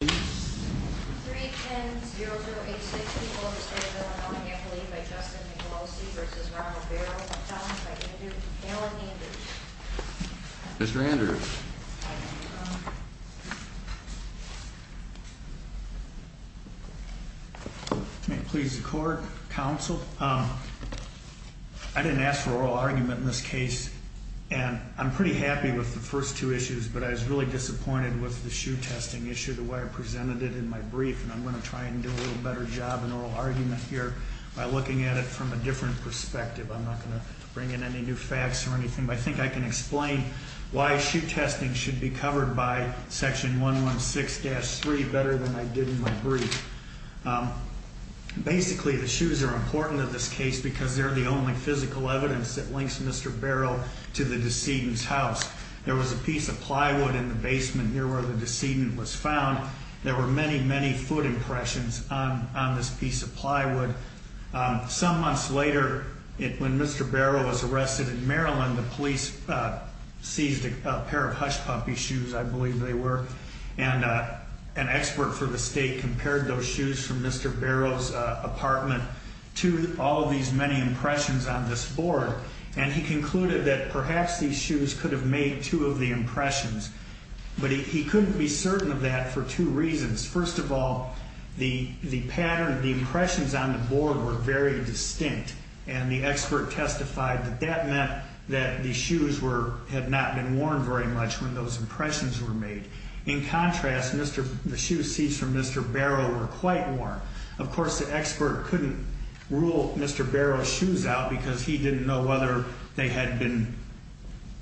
310-0086, people of the state of Illinois, an act to leave by Justin Nicolosi v. Ronald Barrow, and found by Alan Andrews. Mr. Andrews. May it please the court, counsel, I didn't ask for oral argument in this case, and I'm pretty happy with the first two issues, but I was really happy when I presented it in my brief, and I'm going to try and do a little better job in oral argument here by looking at it from a different perspective. I'm not going to bring in any new facts or anything, but I think I can explain why shoe testing should be covered by section 116-3 better than I did in my brief. Basically, the shoes are important in this case because they're the only physical evidence that links Mr. Barrow to the decedent's house. There was a piece of plywood in the basement here where the decedent was found. There were many, many foot impressions on this piece of plywood. Some months later, when Mr. Barrow was arrested in Maryland, the police seized a pair of Hush Puppy shoes, I believe they were, and an expert for the state compared those shoes from Mr. Barrow's apartment to all of these many impressions on this board, and he concluded that perhaps these shoes could have made two of the impressions, but he couldn't be certain of that for two reasons. First of all, the pattern, the impressions on the board were very distinct, and the expert testified that that meant that the shoes had not been worn very much when those impressions were made. In contrast, the shoe seized from Mr. Barrow were quite worn. Of course, the expert couldn't rule Mr. Barrow's shoes out because he didn't know whether they had been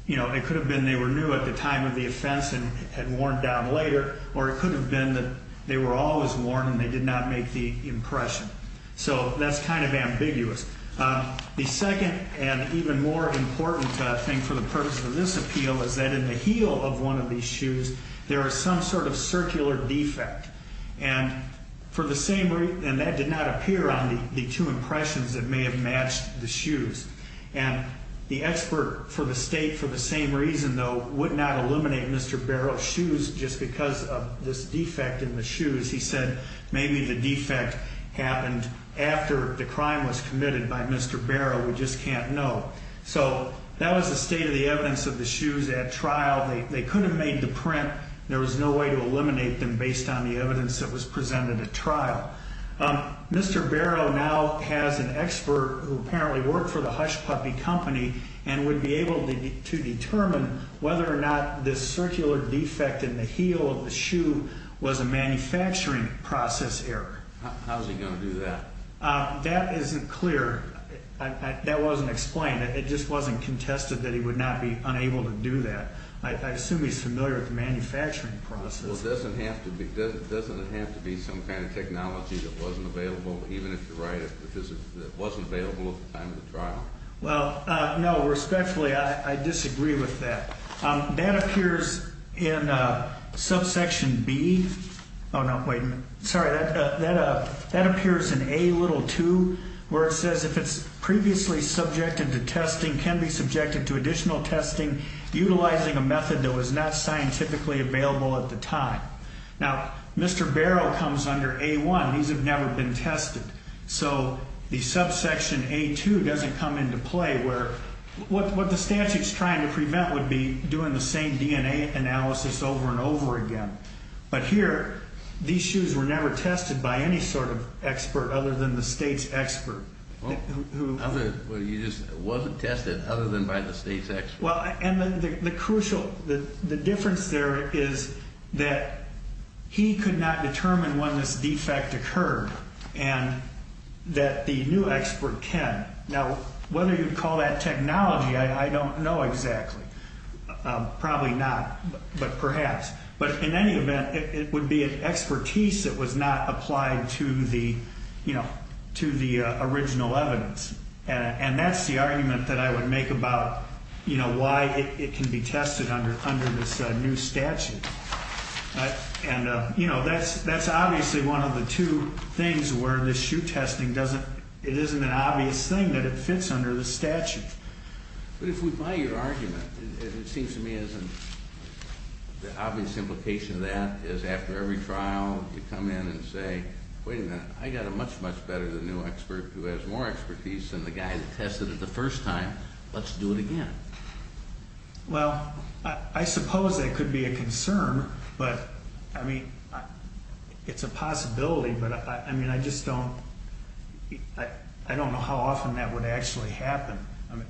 you know, it could have been they were new at the time of the offense and had worn down later, or it could have been that they were always worn and they did not make the impression. So that's kind of ambiguous. The second and even more important thing for the purpose of this appeal is that in the heel of one of these shoes, there is some sort of circular defect, and for the same reason that did not appear on the two impressions that may have matched the shoes. And the expert for the state for the same reason though would not eliminate Mr. Barrow's shoes just because of this defect in the shoes. He said maybe the defect happened after the crime was committed by Mr. Barrow. We just can't know. So that was the state of the evidence of the shoes at trial. They couldn't have made the print. There was no way to eliminate them based on the evidence that was presented at trial. Mr. Barrow now has an expert who apparently worked for the Hush Puppy Company and would be able to determine whether or not this circular defect in the heel of the shoe was a manufacturing process error. How is he going to do that? That isn't clear. That wasn't explained. It just wasn't contested that he would not be unable to do that. I assume he's familiar with the manufacturing process. Well, doesn't it have to be some kind of technology that wasn't available at the time of the trial? No, respectfully, I disagree with that. That appears in subsection B. That appears in A2 where it says if it's previously subjected to testing, can be subjected to additional testing utilizing a method that was not scientifically available at the time. Now, Mr. Barrow comes under A1. These have never been tested. So the subsection A2 doesn't come into play where what the statute is trying to prevent would be doing the same DNA analysis over and over again. But here, these shoes were never tested by any sort of expert other than the state's expert. It wasn't tested other than by the state's expert. The difference there is that he could not determine when this defect occurred and that the new expert can. Now, whether you'd call that technology I don't know exactly. Probably not. But perhaps. But in any event, it would be an expertise that was not applied to the original evidence. And that's the argument that I would make about why it can be tested under this new statute. And, you know, that's obviously one of the two things where this shoe testing doesn't, it isn't an obvious thing that it fits under the statute. But if we buy your argument it seems to me as an, the obvious implication of that is after every trial you come in and say, wait a minute, I got a much, much better than new expert who has more expertise than the guy that tested it the first time. Let's do it again. Well, I suppose that could be a concern. But, I mean, it's a possibility. But I mean, I just don't I don't know how often that would actually happen.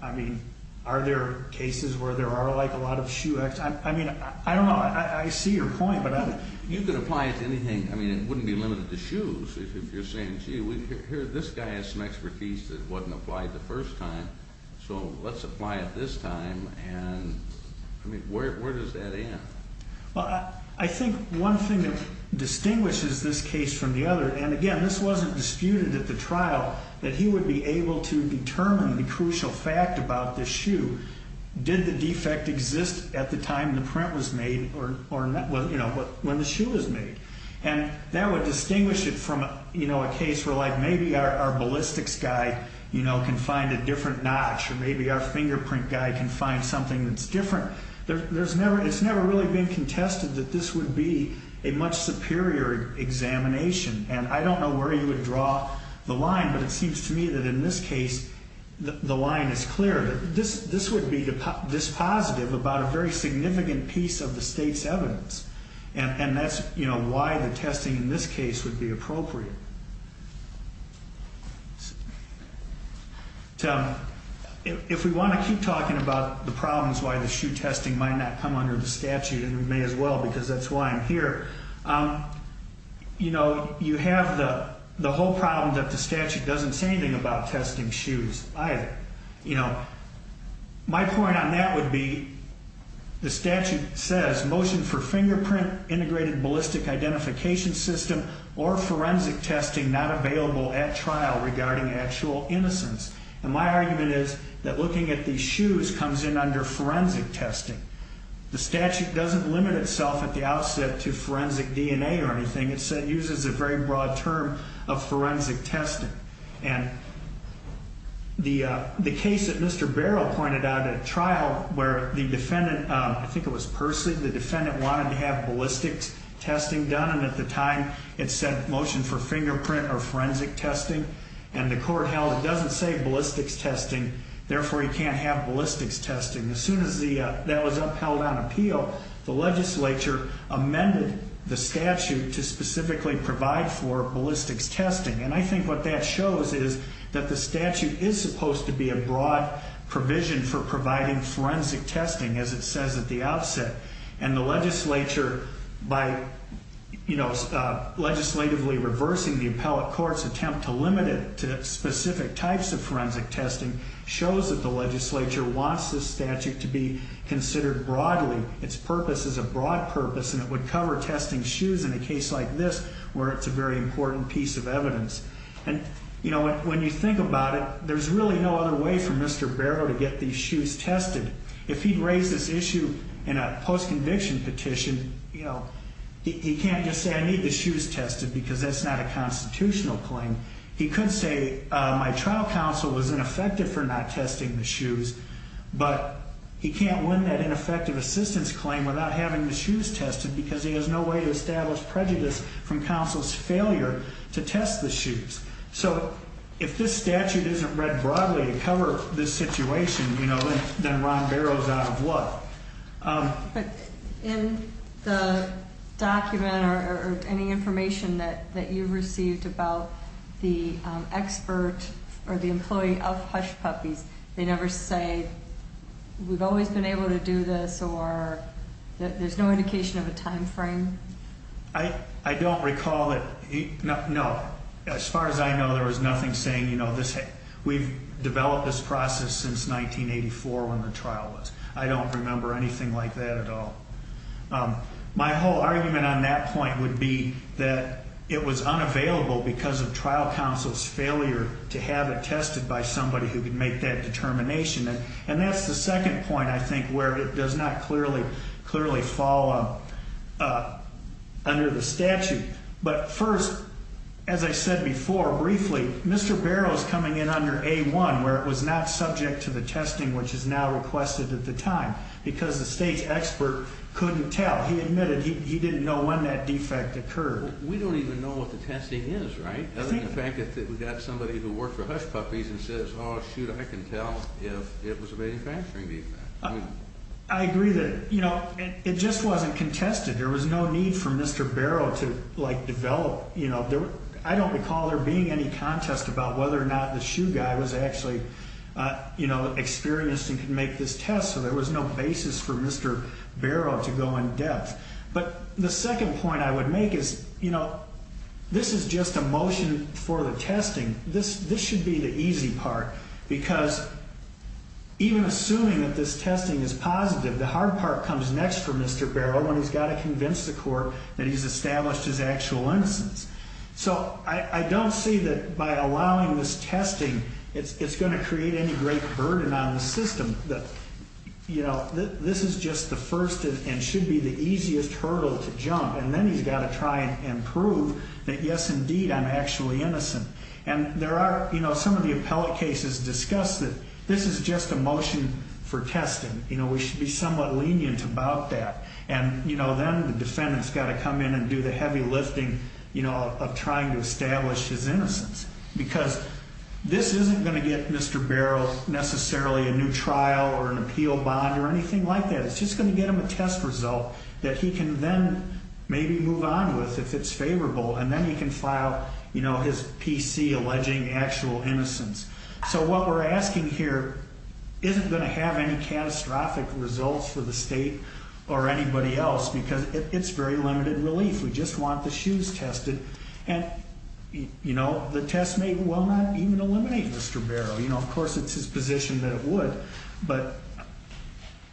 I mean, are there cases where there are like a lot of shoe experts? I mean, I don't know. I see your point. You could apply it to anything. I mean, it wouldn't be limited to shoes if you're saying, gee, this guy has some expertise that wasn't applied the first time, so let's apply it this time. And, I mean, where does that end? Well, I think one thing that distinguishes this case from the other, and again, this wasn't disputed at the trial, that he would be able to determine the crucial fact about this shoe. Did the defect exist at the time the print was made or when the shoe was made? And that would distinguish it from a case where maybe our ballistics guy can find a our fingerprint guy can find something that's different. It's never really been contested that this would be a much superior examination. And I don't know where you would draw the line, but it seems to me that in this case the line is clear. This would be this positive about a very significant piece of the state's evidence. And that's why the testing in this case would be appropriate. Tim, if we want to keep talking about the problems why the shoe testing might not come under the statute, and we may as well because that's why I'm here, you know, you have the whole problem that the statute doesn't say anything about testing shoes either. My point on that would be, the statute says, motion for fingerprint integrated ballistic identification system or forensic testing not available at trial regarding actual innocence. And my argument is that looking at these shoes comes in under forensic testing. The statute doesn't limit itself at the outset to forensic DNA or anything. It uses a very broad term of forensic testing. And the case that Mr. Barrow pointed out at trial where the defendant, I think it was Percy, the defendant wanted to have ballistics testing done. And at the time it said motion for fingerprint or forensic testing. And the court held it doesn't say ballistics testing, therefore he can't have ballistics testing. As soon as that was upheld on appeal, the legislature amended the statute to specifically provide for ballistics testing. And I think what that shows is that the statute is supposed to be a broad provision for providing forensic testing as it says at the outset. And the legislature by legislatively reversing the appellate court's attempt to limit it to specific types of forensic testing shows that the legislature wants this statute to be considered broadly. Its purpose is a broad purpose and it would cover testing shoes in a case like this where it's a very important piece of evidence. And when you think about it, there's really no other way for Mr. Barrow to get these shoes tested. If he raised this issue in a post-conviction petition, he can't just say I need the shoes tested because that's not a constitutional claim. He could say my trial counsel was ineffective for not testing the shoes, but he can't win that ineffective assistance claim without having the shoes tested because he has no way to establish prejudice from counsel's failure to test the shoes. So if this statute isn't read broadly to cover this situation, then Ron Barrow's out of luck. In the document or any information that you received about the expert or the employee of Hush Puppies, they never say we've always been able to do this or there's no indication of a time frame? I don't recall that, no. As far as I know, there was nothing saying we've developed this process since 1984 when the trial was. I don't remember anything like that at all. My whole argument on that point would be that it was unavailable because of trial counsel's failure to have it tested by somebody who could make that determination. And that's the second point I think where it does not clearly fall under the statute. But first, as I said before, briefly, Mr. Barrow's coming in under A1 where it was not subject to the testing which is now requested at the time because the state's expert couldn't tell. He admitted he didn't know when that defect occurred. We don't even know what the testing is, right? Other than the fact that we've got somebody who worked for Hush Puppies and says, oh shoot, I can tell if it was a manufacturing defect. I agree that it just wasn't contested. There was no need for Mr. Barrow to develop. I don't recall there being any contest about whether or not the shoe guy was actually experienced and could make this test. So there was no basis for Mr. Barrow to go in depth. But the second point I would make is this is just a motion for the testing. This should be the easy part because even assuming that this testing is positive, the hard part comes next for Mr. Barrow when he's got to prove his actual innocence. So I don't see that by allowing this testing, it's going to create any great burden on the system. This is just the first and should be the easiest hurdle to jump. And then he's got to try and prove that yes, indeed, I'm actually innocent. And there are some of the appellate cases discuss that this is just a motion for testing. We should be somewhat lenient about that. And then the defendant's got to come in and do the heavy lifting of trying to establish his innocence. Because this isn't going to get Mr. Barrow necessarily a new trial or an appeal bond or anything like that. It's just going to get him a test result that he can then maybe move on with if it's favorable. And then he can file his PC alleging actual innocence. So what we're asking here isn't going to have any catastrophic results for the state or anybody else because it's very limited relief. We just want the shoes tested. And the test may well not even eliminate Mr. Barrow. Of course, it's his position that it would. But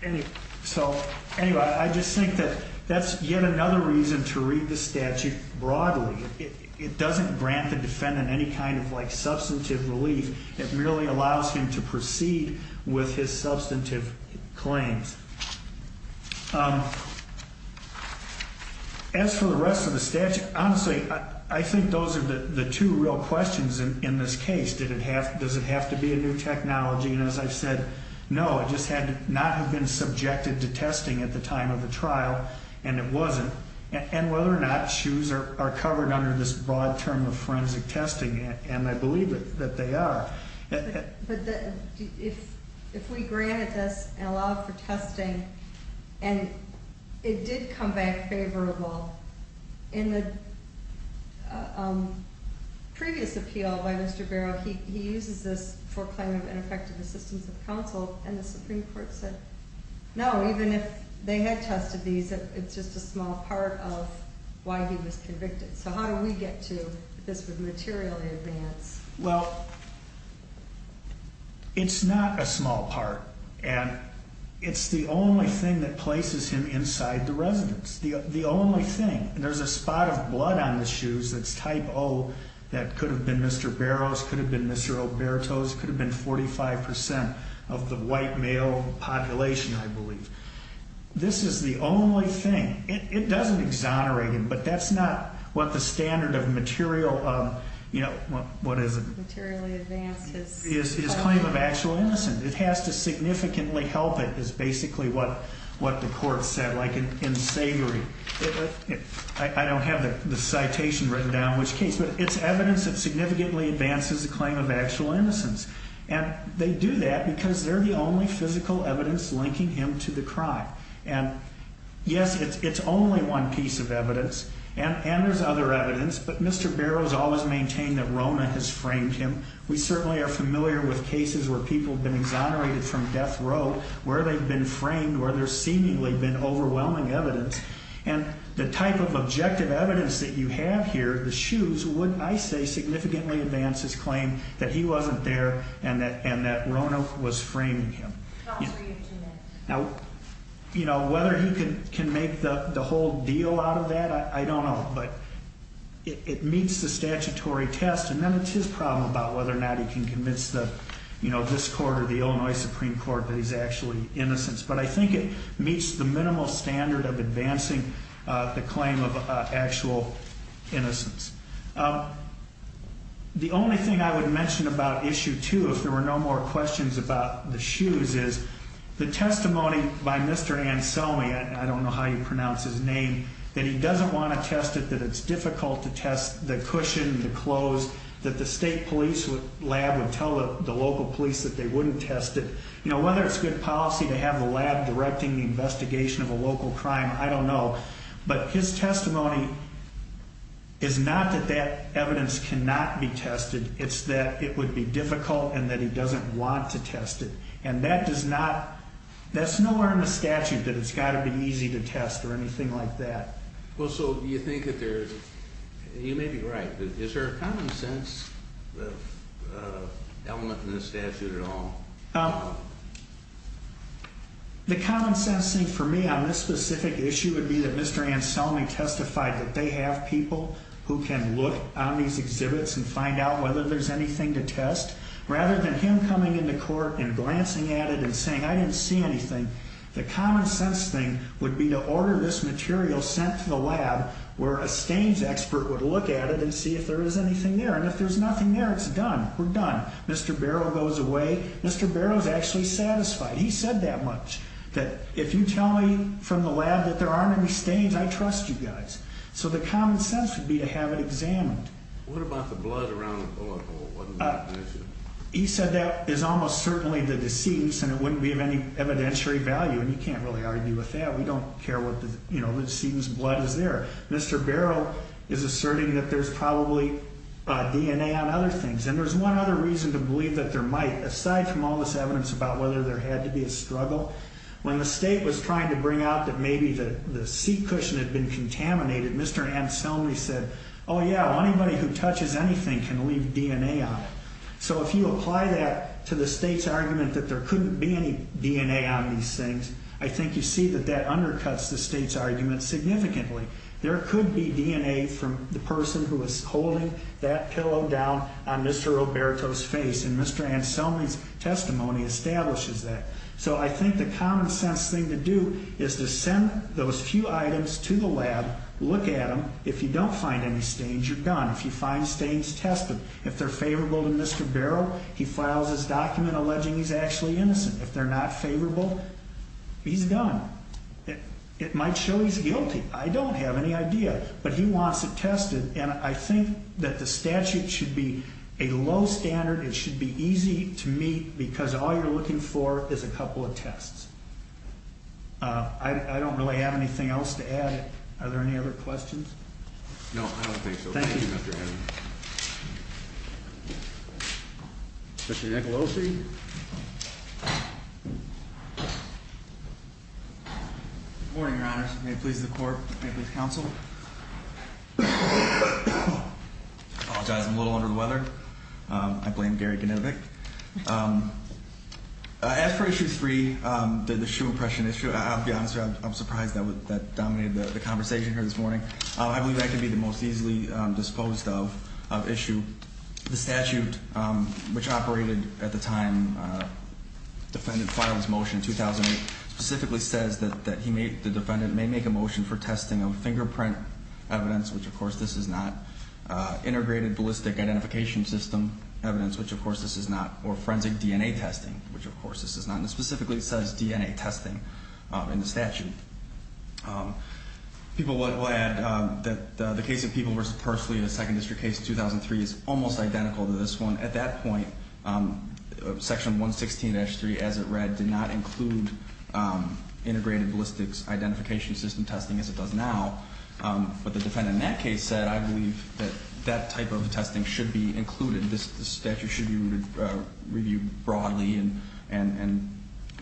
anyway, I just think that that's yet another reason to read the statute broadly. It doesn't grant the defendant any kind of substantive relief. It merely allows him to proceed with his substantive claims. As for the rest of the statute, honestly, I think those are the two real questions in this case. Does it have to be a new technology? And as I've said, no. It just had to not have been subjected to testing at the time of the trial. And it wasn't. And whether or not shoes are covered under this broad term of forensic testing. And I believe that they are. But if we granted this and allowed for testing and it did come back favorable, in the previous appeal by Mr. Barrow, he uses this for claim of ineffective assistance of counsel and the Supreme Court said no, even if they had tested these, it's just a small part of why he was convicted. So how do we get to this with material advance? Well, it's not a small part. And it's the only thing that places him inside the residence. The only thing. And there's a spot of blood on the shoes that's type O that could have been Mr. Barrow's, could have been Mr. Oberto's, could have been 45% of the white male population, I believe. This is the only thing. It doesn't exonerate him, but that's not what the standard of material, what is it? His claim of actual innocence. It has to significantly help it is basically what the court said, like in Savory. I don't have the citation written down in which case, but it's evidence that significantly advances the claim of actual innocence. And they do that because they're the only physical evidence linking him to the crime. And yes, it's only one piece of evidence. And there's other evidence, but Mr. Barrow's always maintained that Rona has framed him. We certainly are familiar with cases where people have been exonerated from death row, where they've been framed, where there's seemingly been overwhelming evidence. And the type of objective evidence that you have here, the shoes, would, I say, significantly advance his claim that he wasn't there and that Rona was framing him. Now, whether he can make the whole deal out of that, I don't know, but it meets the statutory test. And then it's his problem about whether or not he can convince this court or the Illinois Supreme Court that he's actually innocent. But I think it meets the minimal standard of advancing the claim of actual innocence. The only thing I would mention about issue two, if there were no more questions about the shoes, is the testimony by Mr. Anselme, I don't know how you pronounce his name, that he doesn't want to test it, that it's difficult to test the cushion, the clothes, that the state police lab would tell the local police that they wouldn't test it. Whether it's good policy to have a lab directing the investigation of a local crime, I don't know. But his testimony is not that that evidence cannot be tested, it's that it would be difficult and that he doesn't want to test it. And that does not, that's nowhere in the statute that it's got to be easy to test or anything like that. You may be right, but is there a common sense element in the statute at all? The common sense thing for me on this specific issue would be that Mr. Anselme testified that they have people who can look on these exhibits and find out whether there's anything to test. Rather than him coming into court and glancing at it and saying, I didn't see anything, the common sense thing would be to order this material sent to the lab where a stains expert would look at it and see if there is anything there. And if there's nothing there, it's done. We're done. Mr. Barrow goes away. Mr. Barrow's actually satisfied. He said that much, that if you tell me from the lab that there aren't any stains, I trust you guys. So the common sense would be to have it examined. What about the blood around the bullet hole? He said that is almost certainly the decedent's and it wouldn't be of any evidentiary value. And you can't really argue with that. We don't care what the decedent's blood is there. Mr. Barrow is asserting that there's probably DNA on other things. And there's one other reason to believe that there might, aside from all this evidence about whether there had to be a struggle, when the state was trying to bring out that maybe the seat cushion had been contaminated, Mr. Anselme said, oh yeah, well anybody who touches anything can leave DNA on it. So if you apply that to the state's argument that there couldn't be any DNA on these things, I think you see that that undercuts the state's argument significantly. There could be DNA from the person who was holding that pillow down on Mr. Roberto's face and Mr. Anselme's testimony establishes that. So I think the common sense thing to do is to send those few items to the state. If you don't find any stains, you're done. If you find stains, test them. If they're favorable to Mr. Barrow, he files his document alleging he's actually innocent. If they're not favorable, he's done. It might show he's guilty. I don't have any idea. But he wants it tested and I think that the statute should be a low standard. It should be easy to meet because all you're looking for is a couple of tests. I don't really have anything else to add. Are there any other questions? No, I don't think so. Thank you, Mr. Evans. Mr. Nicolosi? Good morning, Your Honors. May it please the Court. May it please the Counsel. I apologize. I'm a little under the weather. I blame Gary Ganivick. I asked for Issue 3, the shoe impression issue. I'll be honest with you, I'm surprised that dominated the conversation here this morning. I believe that could be the most easily disposed of issue. The statute, which operated at the time the defendant filed his motion in 2008, specifically says that the defendant may make a motion for testing of fingerprint evidence, which of course this is not, integrated ballistic identification system evidence, which of course this is not, or forensic DNA testing, which of course this is not. It specifically says DNA testing in the statute. People will add that the case of People v. Pursley in the Second District case in 2003 is almost identical to this one. At that point, Section 116-3, as it read, did not include integrated ballistics identification system testing as it does now. But the defendant in that case said, I believe that that type of testing should be included. This statute should be reviewed broadly and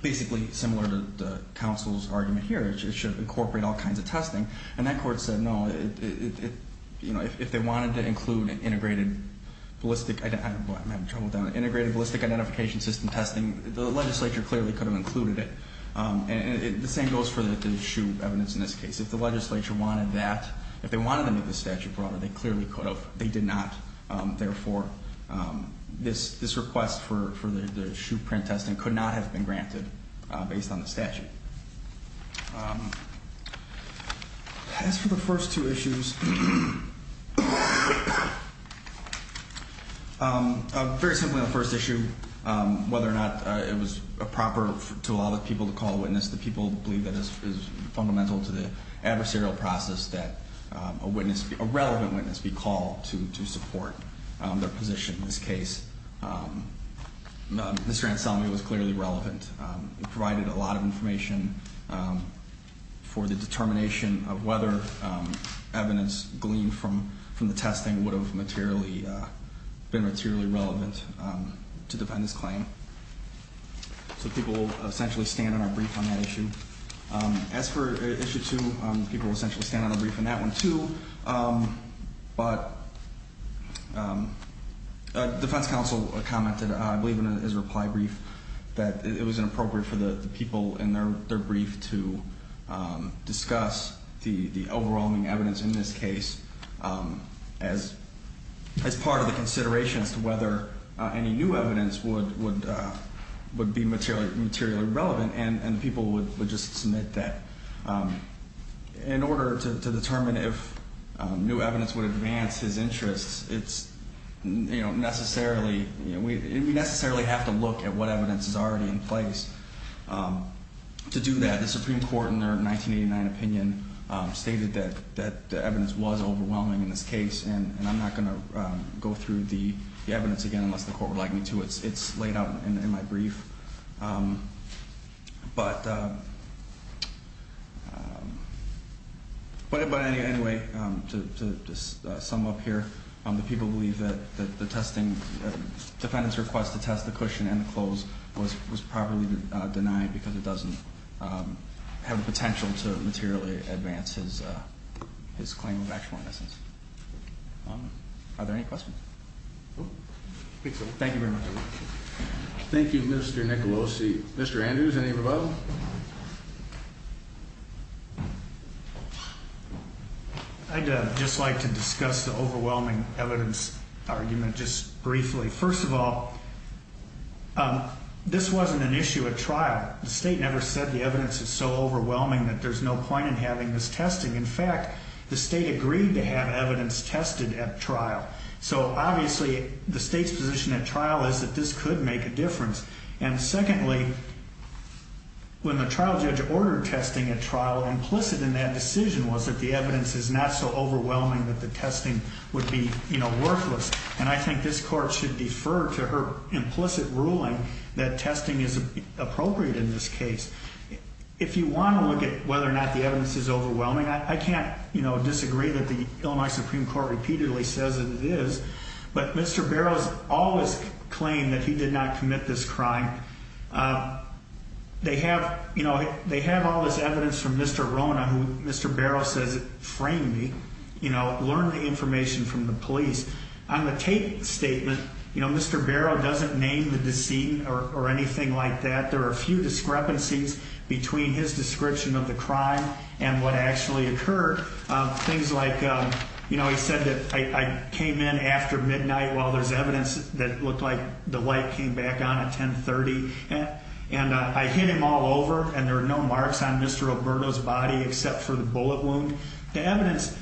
basically similar to the counsel's argument here. It should incorporate all kinds of testing. And that court said no. If they wanted to include integrated ballistic identification system testing, the legislature clearly could have included it. The same goes for the shoe evidence in this case. If the legislature wanted that, if they wanted them to make the statute broader, they clearly could have. They did not. Therefore, this request for the shoe print testing could not have been granted based on the statute. As for the first two issues, very simply on the first issue, whether or not it was proper to allow the people to call a witness, the people believe that it is fundamental to the adversarial process that a relevant witness be called to support their position in this case. Mr. Anselmi was clearly relevant. He provided a lot of information for the determination of whether evidence gleaned from the testing would have been materially relevant to defend his claim. So people will essentially stand on our brief on that issue. As for issue two, people will essentially stand on our brief on that one too. But defense counsel commented, I believe in his reply brief, that it was inappropriate for the people in their brief to discuss the overwhelming evidence in this case as part of the consideration as to whether any new evidence would be materially relevant. And people would just submit that in order to determine if new evidence would advance his interests, we necessarily have to look at what evidence is already in place. To do that, the Supreme Court in their 1989 opinion stated that the evidence was overwhelming in this case and I'm not going to go through the evidence again unless the Court would like me to. It's laid out in my brief. But anyway, to sum up here, the people believe that the defendant's request to test the cushion and the clothes was properly denied because it doesn't have the potential to materially advance his claim of actual innocence. Are there any questions? Thank you very much. Thank you, Mr. Nicolosi. Mr. Andrews, any rebuttal? I'd just like to discuss the overwhelming evidence argument just briefly. First of all, this wasn't an issue at trial. The state never said the evidence is so overwhelming that there's no point in having this testing. In fact, the state agreed to have evidence tested at trial. So obviously the state's position at trial is that this could make a difference. Secondly, when the trial judge ordered testing at trial, implicit in that decision was that the evidence is not so overwhelming that the testing would be worthless. I think this Court should defer to her implicit ruling that testing is appropriate in this case. If you want to look at whether or not the evidence is overwhelming, I can't disagree that the Illinois Supreme Court repeatedly says that it is. But Mr. Barrow's always claimed that he did not commit this crime. They have all this evidence from Mr. Rona, who Mr. Barrow says framed me, learned the information from the police. On the tape statement, Mr. Barrow doesn't name the decedent or anything like that. There are a few discrepancies between his description of the crime and what actually occurred. Things like, you know, he said that I came in after midnight while there's evidence that looked like the light came back on at 1030. And I hit him all over and there were no marks on Mr. Roberto's body except for the bullet wound. The evidence,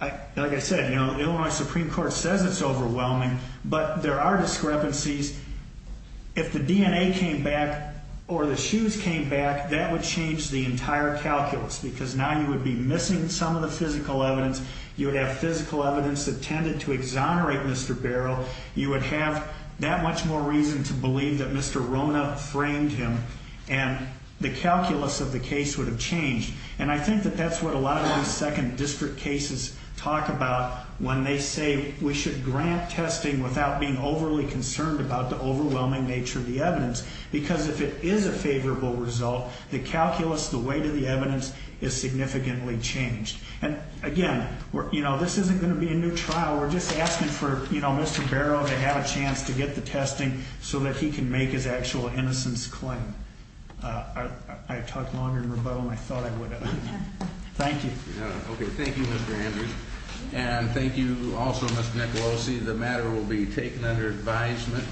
like I said, the Illinois Supreme Court says it's overwhelming, but there are discrepancies. If the DNA came back or the shoes came back, that would change the entire case. You would have at least some of the physical evidence. You would have physical evidence that tended to exonerate Mr. Barrow. You would have that much more reason to believe that Mr. Rona framed him and the calculus of the case would have changed. And I think that that's what a lot of these second district cases talk about when they say we should grant testing without being overly concerned about the overwhelming nature of the evidence. Because if it is a favorable result, the calculus, the weight of the evidence is significantly changed. And again, this isn't going to be a new trial. We're just asking for Mr. Barrow to have a chance to get the testing so that he can make his actual innocence claim. I talked longer in rebuttal than I thought I would have. Thank you. Thank you, Mr. Andrews. And thank you also, Mr. Nicolosi. The matter will be taken under advisement.